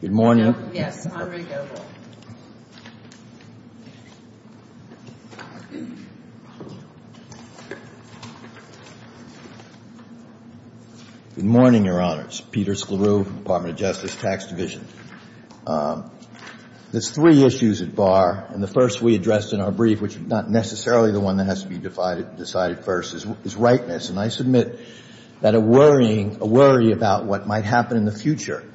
Good morning, Your Honors. Peter Sklaru, Department of Justice, Tax Division. There are three issues at bar, and the first we addressed in our brief, which is not necessarily the one that has to be decided first, is rightness. And I submit that a worry about what might happen in the future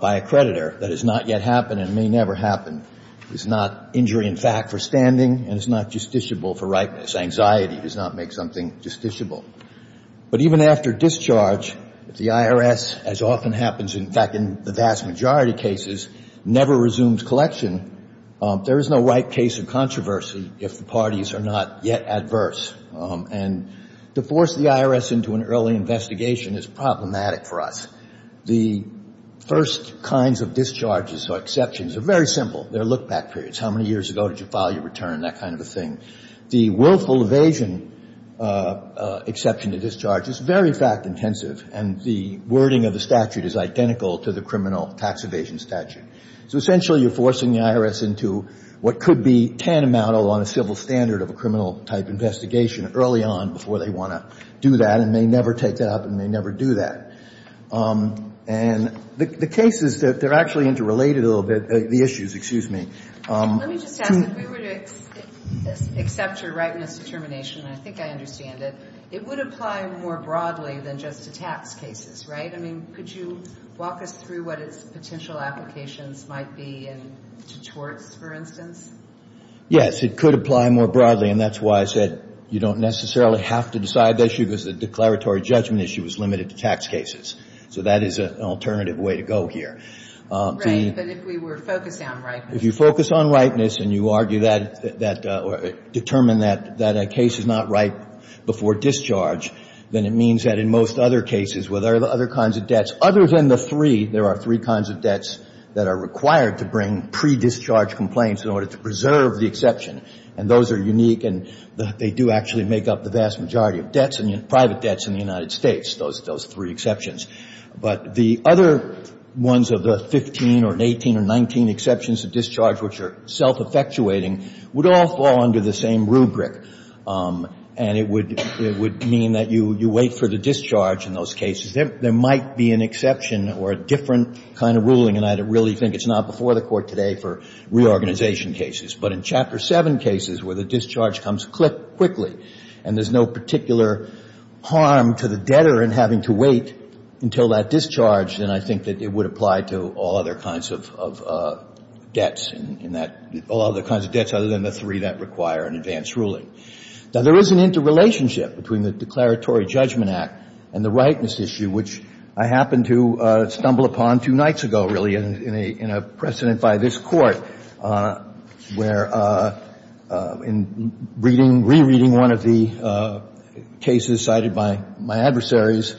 by a creditor that has not yet happened and may never happen is not injury in fact for standing and is not justiciable for rightness. Anxiety does not make something justiciable. But even after discharge, if the IRS, as often happens in fact in the vast majority of cases, never resumes collection, there is no right case of controversy if the parties are not yet adverse. And to force the IRS into an early investigation is problematic for us. The first kinds of discharges or exceptions are very simple. They're look-back periods. How many years ago did you file your return? That kind of a thing. The willful evasion exception to discharge is very fact-intensive, and the wording of the statute is identical to the criminal tax evasion statute. So essentially, you're forcing the IRS into what could be tantamount on a civil standard of a criminal-type investigation early on before they want to do that and may never take that up and may never do that. And the cases, they're actually interrelated a little bit, the issues, excuse me. Let me just ask, if we were to accept your rightness determination, and I think I understand it, it would apply more broadly than just to tax cases, right? I mean, could you walk us through what its potential applications might be in torts, for instance? Yes, it could apply more broadly, and that's why I said you don't necessarily have to decide the issue because the declaratory judgment issue is limited to tax cases. So that is an alternative way to go here. Right. But if we were focused on rightness. If you focus on rightness and you argue that or determine that a case is not right before discharge, then it means that in most other cases where there are other kinds of debts, other than the three, there are three kinds of debts that are required to bring pre-discharge complaints in order to preserve the exception. And those are unique, and they do actually make up the vast majority of debts and private debts in the United States, those three exceptions. But the other ones of the 15 or 18 or 19 exceptions to discharge which are self-effectuating would all fall under the same rubric. And it would mean that you wait for the discharge in those cases. There might be an exception or a different kind of ruling, and I really think it's not before the Court today for reorganization cases. But in Chapter 7 cases where the discharge comes quickly and there's no particular harm to the debtor in having to wait until that discharge, then I think that it would apply to all other kinds of debts in that — all other kinds of debts other than the three that require an advance ruling. Now, there is an interrelationship between the declaratory judgment act and the rightness issue, which I happened to stumble upon two nights ago, really, in a precedent by this Court, where there was a case where, in reading — re-reading one of the cases cited by my adversaries,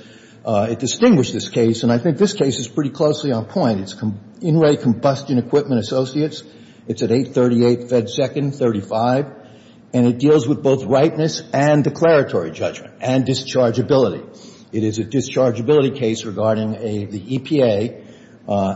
it distinguished this case, and I think this case is pretty closely on point. It's Inouye Combustion Equipment Associates. It's at 838 Fed Second 35, and it deals with both rightness and declaratory judgment and dischargeability. It is a dischargeability case regarding a — the EPA,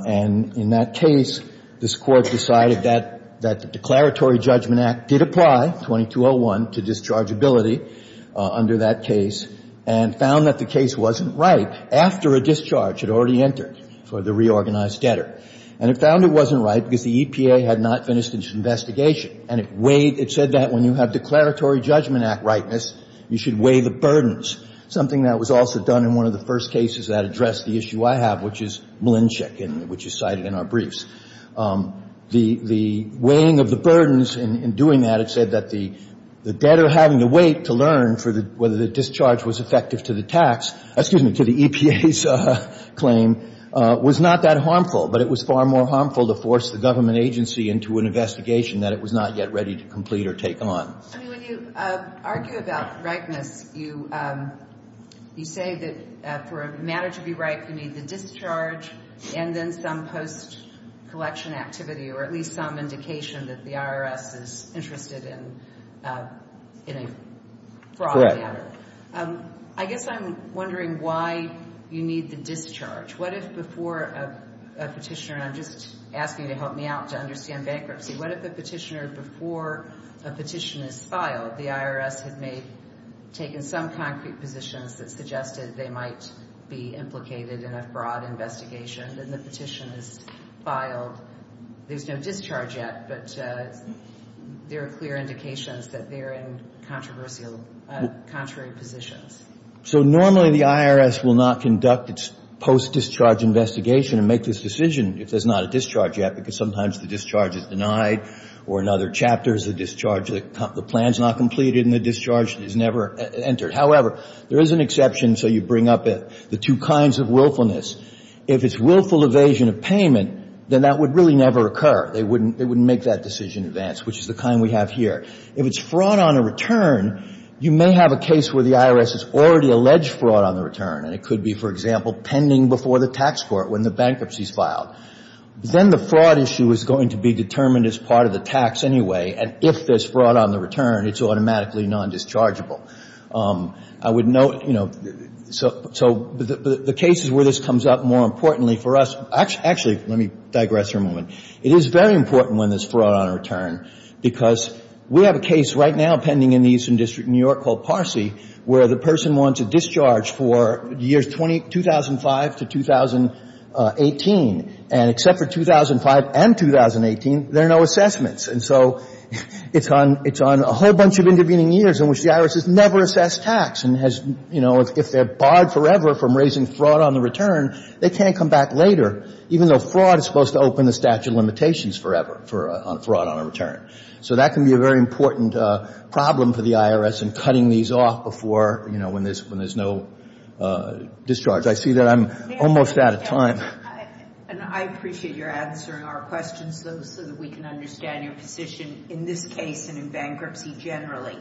and in that case, this Court decided that — that the declaratory judgment act did apply, 2201, to dischargeability under that case, and found that the case wasn't right after a discharge had already entered for the reorganized debtor. And it found it wasn't right because the EPA had not finished its investigation. And it weighed — it said that when you have declaratory judgment act rightness, you should weigh the burdens, something that was also done in one of the first cases that addressed the issue I have, which is Malinchik, and which is cited in our briefs. The weighing of the burdens in doing that, it said that the debtor having to wait to learn for the — whether the discharge was effective to the tax — excuse me, to the EPA's claim, was not that harmful, but it was far more harmful to force the government agency into an investigation that it was not yet ready to complete or take on. I mean, when you argue about rightness, you say that for a matter to be right, you need the discharge and then some post-collection activity, or at least some indication that the IRS is interested in a fraud matter. I guess I'm wondering why you need the discharge. What if before a petitioner — and I'm just asking you to help me out to understand bankruptcy. What if a petitioner, before a petition is filed, the IRS had made — taken some concrete positions that suggested they might be implicated in a fraud investigation, then the petition is filed, there's no discharge yet, but there are clear indications that they're in controversial, contrary positions? So normally the IRS will not conduct its post-discharge investigation and make this decision if there's not a discharge yet, because sometimes the discharge is denied, or in other chapters the discharge — the plan's not completed and the discharge is never entered. However, there is an exception, so you bring up the two kinds of willfulness. If it's willful evasion of payment, then that would really never occur. They wouldn't make that decision in advance, which is the kind we have here. If it's fraud on a return, you may have a case where the IRS has already alleged fraud on the return, and it could be, for example, pending before the tax court when the bankruptcy is filed. Then the fraud issue is going to be determined as part of the tax anyway, and if there's fraud on the return, it's automatically non-dischargeable. I would note, you know, so the cases where this comes up more importantly for us — actually, let me digress here a moment. It is very important when there's fraud on a return, because we have a case right now pending in the Eastern District of New York called Parsi, where the person wants a discharge for the years 2005 to 2018. And except for 2005 and 2018, there are no assessments. And so it's on — it's on a whole bunch of intervening years in which the IRS has never assessed tax and has — you know, if they're barred forever from raising fraud on the return, they can't come back later, even though fraud is supposed to open the statute of limitations forever for fraud on a return. So that can be a very important problem for the IRS in cutting these off before, you know, when there's — when there's no discharge. I see that I'm almost out of time. And I appreciate your answering our questions, though, so that we can understand your position in this case and in bankruptcy generally.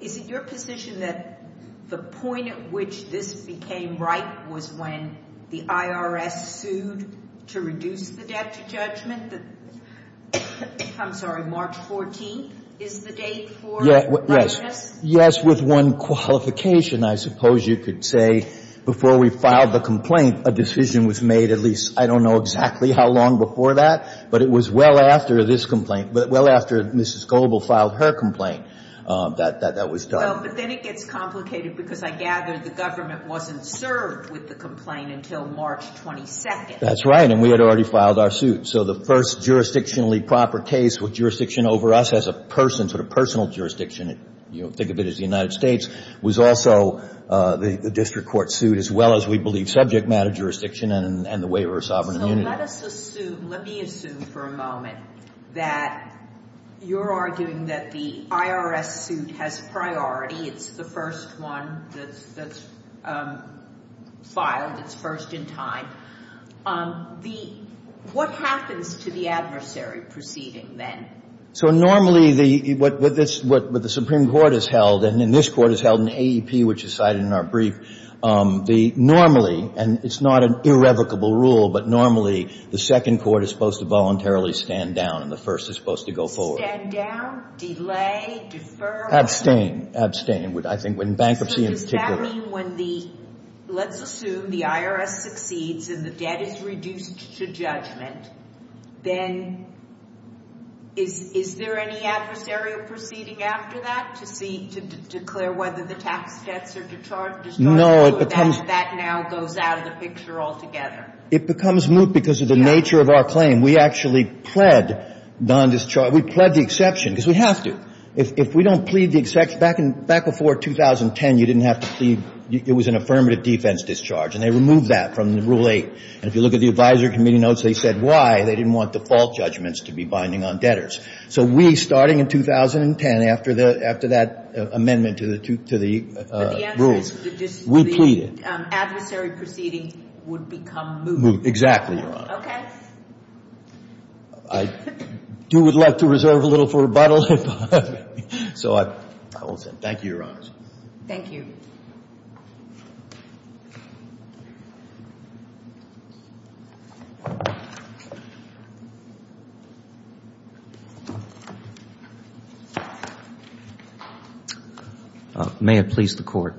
Is it your position that the point at which this became right was when the IRS sued to reduce the debt to judgment? That — I'm sorry, March 14th is the date for — Yes. Yes. Yes, with one qualification, I suppose you could say. Before we filed the complaint, a decision was made at least, I don't know exactly how long before that, but it was well after this complaint — well after Mrs. Goebel filed her complaint that that was done. Well, but then it gets complicated because I gather the government wasn't served with the complaint until March 22nd. That's right. And we had already filed our suit. So the first jurisdictionally proper case with jurisdiction over us as a person, sort of personal jurisdiction, you know, think of it as the United States, was also the district court suit, as well as we believe subject matter jurisdiction and the waiver of sovereign immunity. So let us assume — let me assume for a moment that you're arguing that the IRS suit has priority. It's the first one that's filed. It's first in time. The — what happens to the adversary proceeding then? So normally the — what the Supreme Court has held, and then this court has held in AEP, which is cited in our brief, the — normally, and it's not an irrevocable rule, but normally the second court is supposed to voluntarily stand down and the first is supposed to go forward. Stand down, delay, defer — Abstain. Abstain. I think when bankruptcy in particular — So does that mean when the — let's assume the IRS succeeds and the debt is reduced to judgment, then is there any adversarial proceeding after that to see — to declare whether the tax debts are discharged? No, it becomes — That now goes out of the picture altogether. It becomes moot because of the nature of our claim. We actually pled non-discharge — we pled the exception because we have to. If we don't plead the exception — back before 2010, you didn't have to plead — it was an affirmative defense discharge, and they removed that from the Rule 8. And if you look at the Advisory Committee notes, they said why they didn't want default judgments to be binding on debtors. So we, starting in 2010, after the — after that amendment to the — to the rules, we pleaded. But the answer is the adversary proceeding would become moot. Exactly, Your Honor. Okay. I do would love to reserve a little for rebuttal. So I will — thank you, Your Honors. Thank you. May it please the Court.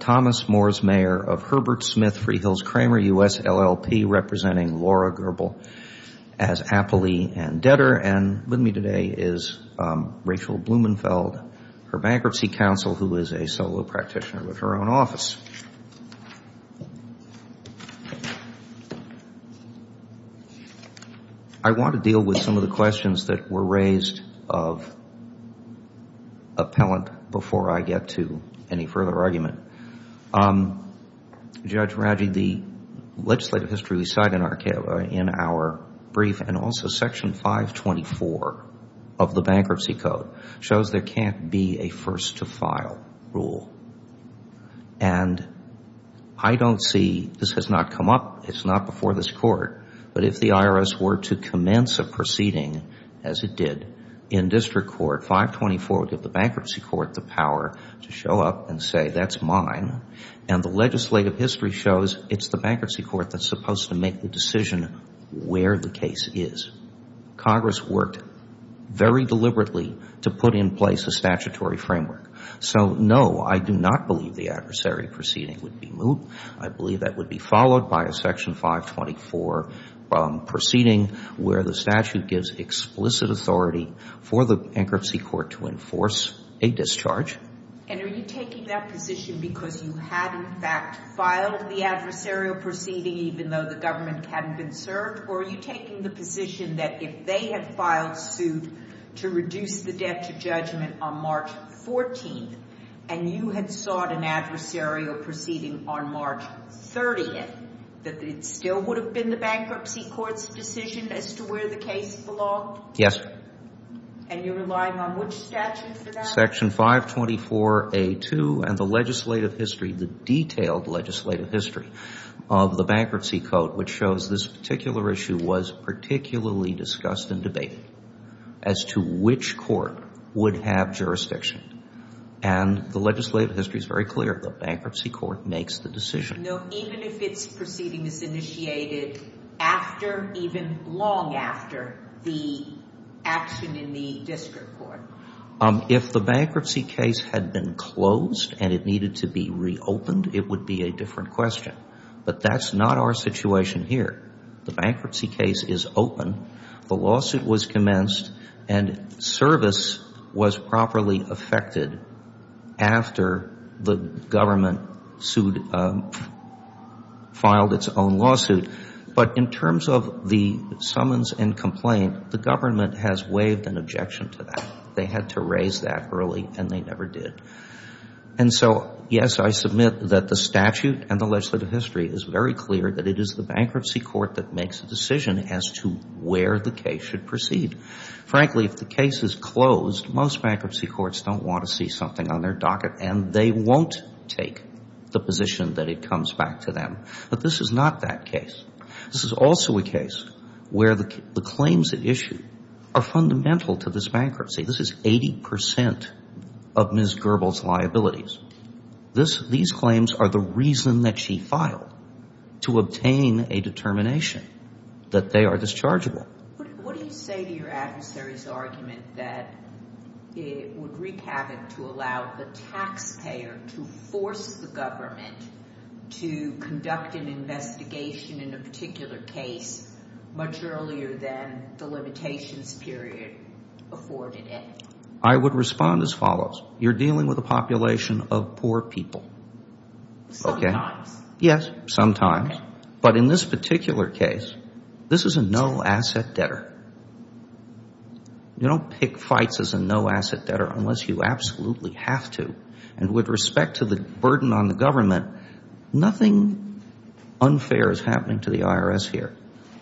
Thomas Moores, Mayor of Herbert Smith Freehills Cramer, U.S. LLP, representing Laura Gerbel as appellee and debtor, and with me today is Rachel Blumenfeld, her bankruptcy counsel, who is a solo practitioner with her own office. I want to deal with some of the questions that were raised of appellant before I get to any further argument. Judge Radji, the legislative history we cite in our brief, and also Section 524 of the Bankruptcy Code, shows there can't be a first-to-file rule. And I don't see — this has not come up. It's not before this Court. But if the IRS were to commence a proceeding, as it did in District Court, 524 would give the Bankruptcy Court the power to show up and say, that's mine. And the legislative history shows it's the Bankruptcy Court that's supposed to make the decision where the case is. Congress worked very deliberately to put in place a statutory framework. So, no, I do not believe the adversarial proceeding would be moved. I believe that would be followed by a Section 524 proceeding where the statute gives explicit authority for the Bankruptcy Court to enforce a discharge. And are you taking that position because you had, in fact, filed the adversarial proceeding even though the government hadn't been served? Or are you taking the position that if they had filed suit to reduce the debt to judgment on March 14th, and you had sought an adversarial proceeding on March 30th, that it still would have been the Bankruptcy Court's decision as to where the case belonged? Yes. And you're relying on which statute for that? Section 524A2 and the legislative history, the detailed legislative history of the Bankruptcy Court, which shows this particular issue was particularly discussed in debate as to which court would have jurisdiction. And the legislative history is very clear. The Bankruptcy Court makes the decision. No, even if its proceeding is initiated after, even long after, the action in the district court? If the bankruptcy case had been closed and it needed to be reopened, it would be a different question. But that's not our situation here. The bankruptcy case is open. The lawsuit was commenced and service was properly affected after the government filed its own lawsuit. But in terms of the summons and complaint, the government has waived an objection to that. They had to raise that early and they never did. And so, yes, I submit that the statute and the legislative history is very clear that it is the Bankruptcy Court that makes the decision as to where the case should proceed. Frankly, if the case is closed, most Bankruptcy Courts don't want to see something on their docket and they won't take the position that it comes back to them. But this is not that case. This is also a case where the claims at issue are fundamental to this bankruptcy. This is 80 percent of Ms. Gerbel's liabilities. These claims are the reason that she filed, to obtain a determination that they are dischargeable. What do you say to your adversary's argument that it would wreak havoc to allow the taxpayer to force the government to conduct an investigation in a particular case much earlier than the limitations period afforded it? I would respond as follows. You're dealing with a population of poor people. Sometimes. Yes, sometimes. But in this particular case, this is a no-asset debtor. You don't pick fights as a no-asset debtor unless you absolutely have to. And with respect to the burden on the government, nothing unfair is happening to the IRS here.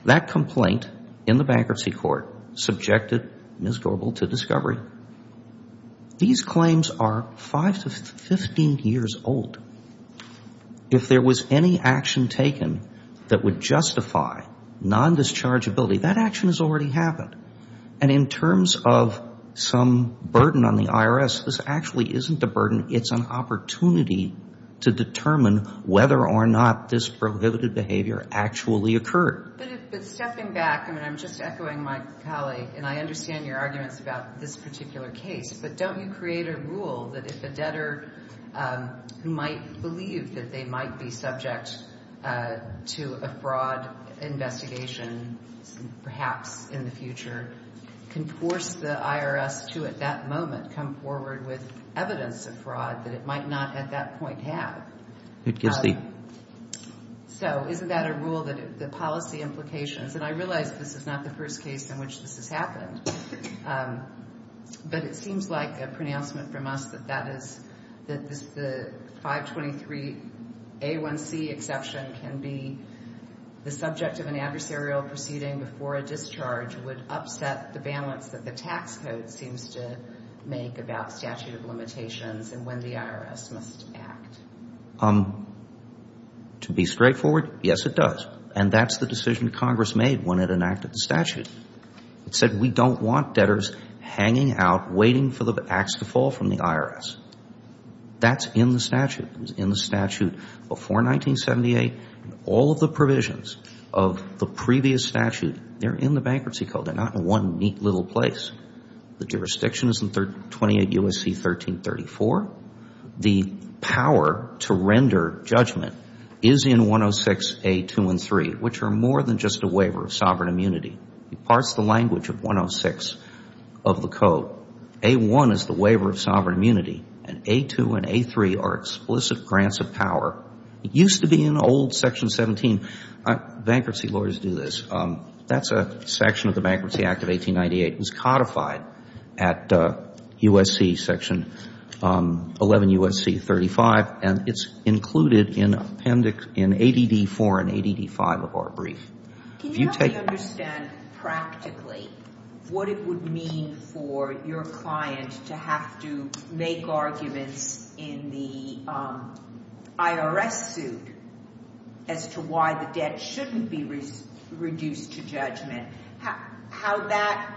That complaint in the Bankruptcy Court subjected Ms. Gerbel to discovery. These claims are five to 15 years old. If there was any action taken that would justify non-dischargeability, that action has already happened. And in terms of some burden on the IRS, this actually isn't a burden. It's an opportunity to determine whether or not this prohibited behavior actually occurred. But stepping back, and I'm just echoing my colleague, and I understand your arguments about this particular case, but don't you create a rule that if a debtor who might believe that they might be subject to a fraud investigation, perhaps in the future, can force the IRS to at that moment come forward with evidence of fraud that it might not at that point have? So isn't that a rule that the policy implications, and I realize this is not the first case in but it seems like a pronouncement from us that the 523A1C exception can be the subject of an adversarial proceeding before a discharge would upset the balance that the tax code seems to make about statute of limitations and when the IRS must act. To be straightforward, yes, it does. And that's the decision Congress made when it enacted the statute. It said we don't want debtors hanging out waiting for the ax to fall from the IRS. That's in the statute. It was in the statute before 1978. All of the provisions of the previous statute, they're in the bankruptcy code. They're not in one neat little place. The jurisdiction is in 28 U.S.C. 1334. The power to render judgment is in 106A213, which are more than just a waiver of sovereign immunity. It parts the language of 106 of the code. A1 is the waiver of sovereign immunity, and A2 and A3 are explicit grants of power. It used to be in old section 17. Bankruptcy lawyers do this. That's a section of the Bankruptcy Act of 1898. It was codified at U.S.C. section 11 U.S.C. 35. And it's included in Appendix, in ADD 4 and ADD 5 of our brief. Can you help me understand practically what it would mean for your client to have to make arguments in the IRS suit as to why the debt shouldn't be reduced to judgment? How that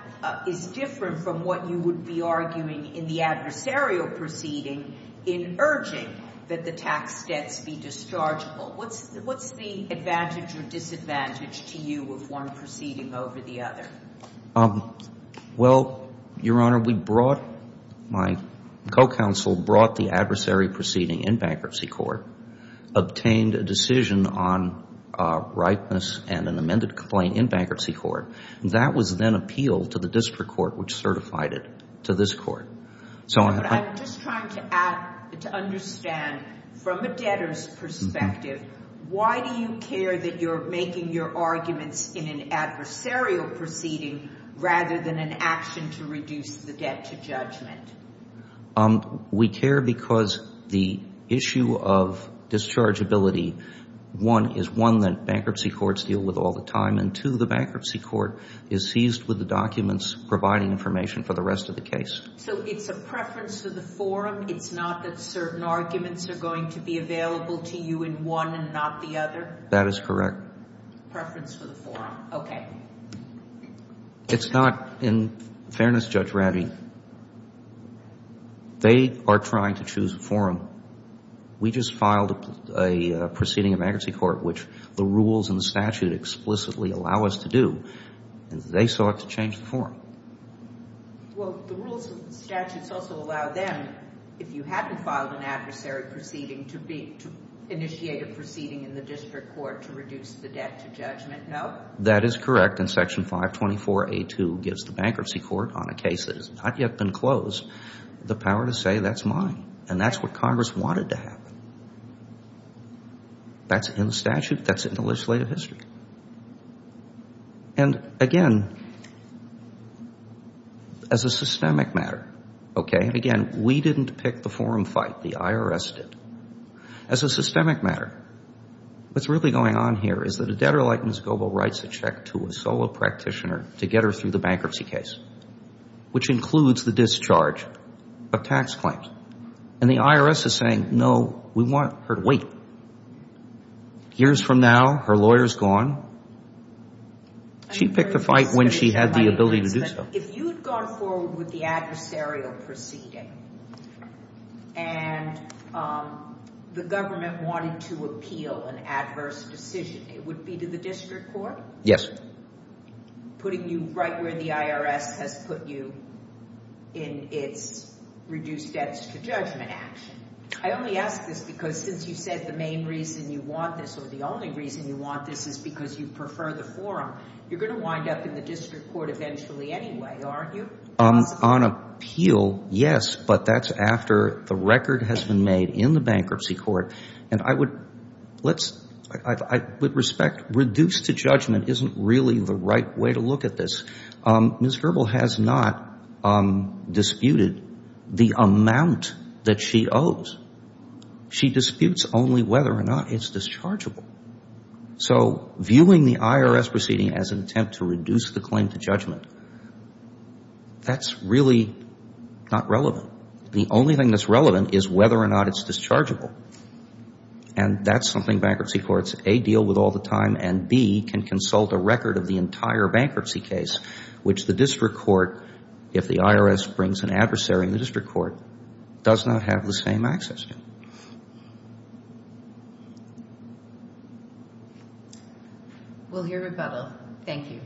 is different from what you would be arguing in the adversarial proceeding in urging that the tax debts be dischargeable? What's the advantage or disadvantage to you of one proceeding over the other? Well, Your Honor, we brought, my co-counsel brought the adversary proceeding in bankruptcy court, obtained a decision on ripeness and an amended complaint in bankruptcy court. That was then appealed to the district court, which certified it to this court. I'm just trying to understand from a debtor's perspective, why do you care that you're making your arguments in an adversarial proceeding rather than an action to reduce the debt to We care because the issue of dischargeability, one, is one that bankruptcy courts deal with all the time. And two, the bankruptcy court is seized with the documents providing information for the rest of the case. So it's a preference for the forum. It's not that certain arguments are going to be available to you in one and not the other? That is correct. Preference for the forum. Okay. It's not. In fairness, Judge Radley, they are trying to choose a forum. We just filed a proceeding of bankruptcy court, which the rules and the statute explicitly allow us to do. They sought to change the forum. Well, the rules and the statutes also allow them, if you haven't filed an adversary proceeding, to initiate a proceeding in the district court to reduce the debt to judgment. No? That is correct. And Section 524A2 gives the bankruptcy court on a case that has not yet been closed the power to say that's mine. And that's what Congress wanted to happen. That's in the statute. That's in the legislative history. And, again, as a systemic matter, okay, again, we didn't pick the forum fight. The IRS did. As a systemic matter, what's really going on here is that a debtor like Ms. Goebel writes a check to a solo practitioner to get her through the bankruptcy case, which includes the discharge of tax claims. And the IRS is saying, no, we want her to wait. Years from now, her lawyer's gone. She picked the fight when she had the ability to do so. If you had gone forward with the adversarial proceeding and the government wanted to appeal an adverse decision, it would be to the district court? Yes. Putting you right where the IRS has put you in its reduce debts to judgment action. I only ask this because since you said the main reason you want this or the only reason you want this is because you prefer the forum, you're going to wind up in the district court eventually anyway, aren't you? On appeal, yes, but that's after the record has been made in the bankruptcy court. And I would respect reduce to judgment isn't really the right way to look at this. Ms. Goebel has not disputed the amount that she owes. She disputes only whether or not it's dischargeable. So viewing the IRS proceeding as an attempt to reduce the claim to judgment, that's really not relevant. The only thing that's relevant is whether or not it's dischargeable. And that's something bankruptcy courts, A, deal with all the time and B, can consult a record of the entire bankruptcy case, which the district court, if the IRS brings an adversary in the district court, does not have the same access to. We'll hear rebuttal. Thank you.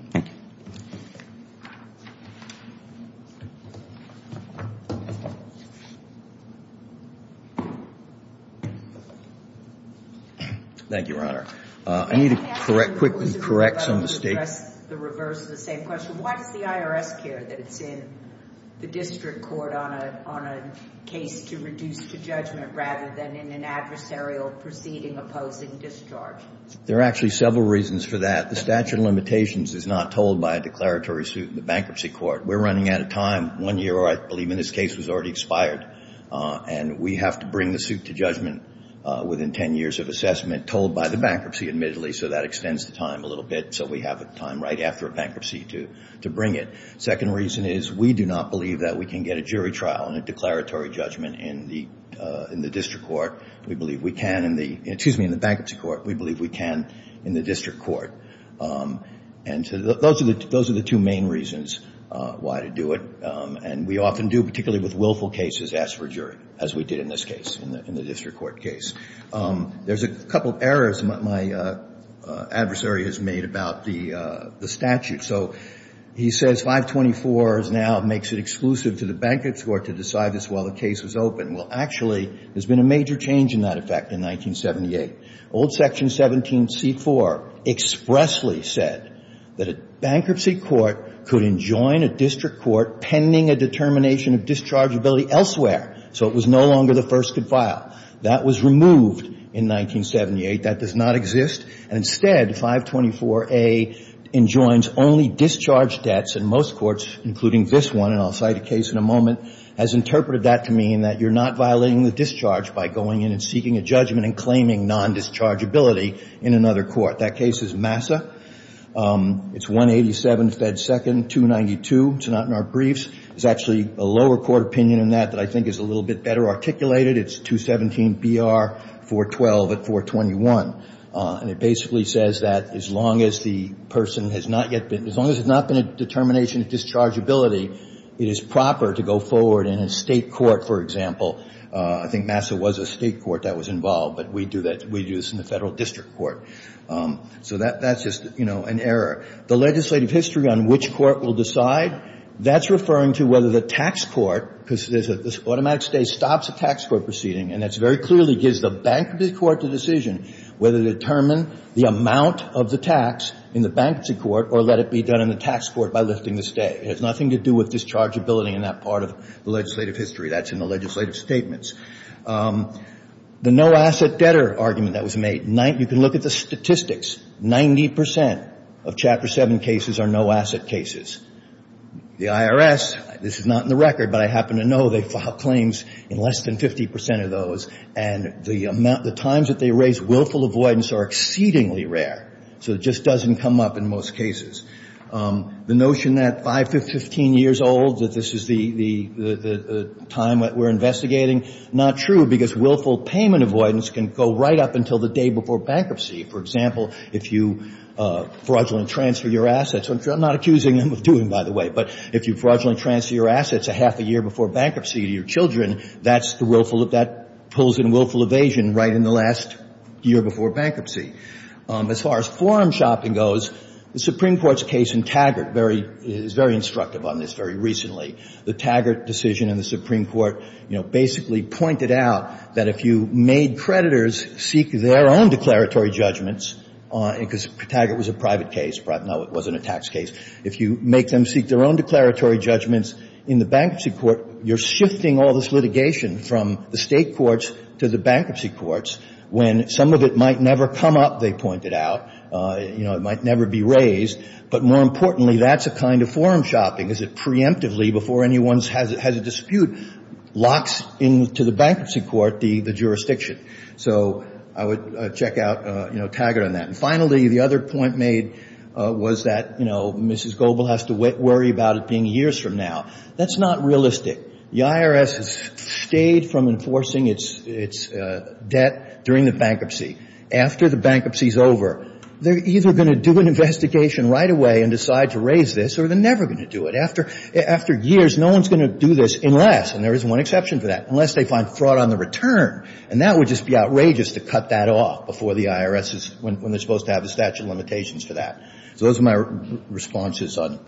Thank you, Your Honor. I need to quickly correct some mistakes. Can you address the reverse of the same question? Why does the IRS care that it's in the district court on a case to reduce to judgment rather than in an adversarial proceeding opposing discharge? There are actually several reasons for that. The statute of limitations is not told by a declaratory suit in the bankruptcy court. We're running out of time. One year, I believe, in this case was already expired. And we have to bring the suit to judgment within 10 years of assessment, told by the bankruptcy, admittedly. So that extends the time a little bit. So we have time right after a bankruptcy to bring it. Second reason is we do not believe that we can get a jury trial and a declaratory judgment in the district court. We believe we can in the bankruptcy court. We believe we can in the district court. And those are the two main reasons why to do it. And we often do, particularly with willful cases, ask for a jury, as we did in this case, in the district court case. There's a couple of errors my adversary has made about the statute. So he says 524 now makes it exclusive to the bankruptcy court to decide this while the case was open. Well, actually, there's been a major change in that effect in 1978. Old Section 17c4 expressly said that a bankruptcy court could enjoin a district court pending a determination of dischargeability elsewhere. So it was no longer the first to file. That was removed in 1978. That does not exist. And instead, 524A enjoins only discharge debts in most courts, including this one. And I'll cite a case in a moment, has interpreted that to mean that you're not violating the discharge by going in and seeking a judgment and claiming non-dischargeability in another court. That case is Massa. It's 187, Fed Second, 292. It's not in our briefs. There's actually a lower court opinion in that that I think is a little bit better articulated. It's 217 BR 412 at 421. And it basically says that as long as the person has not yet been, as long as there's not been a determination of dischargeability, it is proper to go forward in a state court, for example. I think Massa was a state court that was involved. But we do that, we do this in the federal district court. So that's just, you know, an error. The legislative history on which court will decide, that's referring to whether the tax court, because there's an automatic stay, stops a tax court proceeding, and that's very clearly gives the bankruptcy court the decision whether to determine the amount of the tax in the bankruptcy court or let it be done in the tax court by lifting the stay. It has nothing to do with dischargeability in that part of the legislative history. That's in the legislative statements. The no-asset debtor argument that was made, you can look at the statistics. Ninety percent of Chapter 7 cases are no-asset cases. The IRS, this is not in the record, but I happen to know they file claims in less than 50 percent of those. And the amount, the times that they raise willful avoidance are exceedingly rare. So it just doesn't come up in most cases. The notion that 5 to 15 years old, that this is the time that we're investigating, not true, because willful payment avoidance can go right up until the day before bankruptcy. For example, if you fraudulently transfer your assets, which I'm not accusing them of doing, by the way, but if you fraudulently transfer your assets a half a year before bankruptcy to your children, that's the willful, that pulls in willful evasion right in the last year before bankruptcy. As far as forum shopping goes, the Supreme Court's case in Taggart is very instructive on this very recently. The Taggart decision in the Supreme Court, you know, basically pointed out that if you made creditors seek their own declaratory judgments, because Taggart was a private case, no, it wasn't a tax case. If you make them seek their own declaratory judgments in the bankruptcy court, you're shifting all this litigation from the state courts to the bankruptcy courts when some of it might never come up, they pointed out. You know, it might never be raised. But more importantly, that's a kind of forum shopping, is it preemptively before anyone has a dispute locks into the bankruptcy court the jurisdiction. So I would check out, you know, Taggart on that. Finally, the other point made was that, you know, Mrs. Goebel has to worry about it being years from now. That's not realistic. The IRS has stayed from enforcing its debt during the bankruptcy. After the bankruptcy's over, they're either going to do an investigation right away and decide to raise this or they're never going to do it. After years, no one's going to do this unless, and there is one exception to that, unless they find fraud on the return. And that would just be outrageous to cut that off before the IRS is, when they're supposed to have the statute of limitations for that. So those are my responses on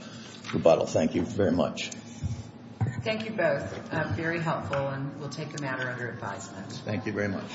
rebuttal. Thank you very much. MS. GOEBEL. Thank you both. Very helpful. And we'll take a matter under advisement. Thank you very much.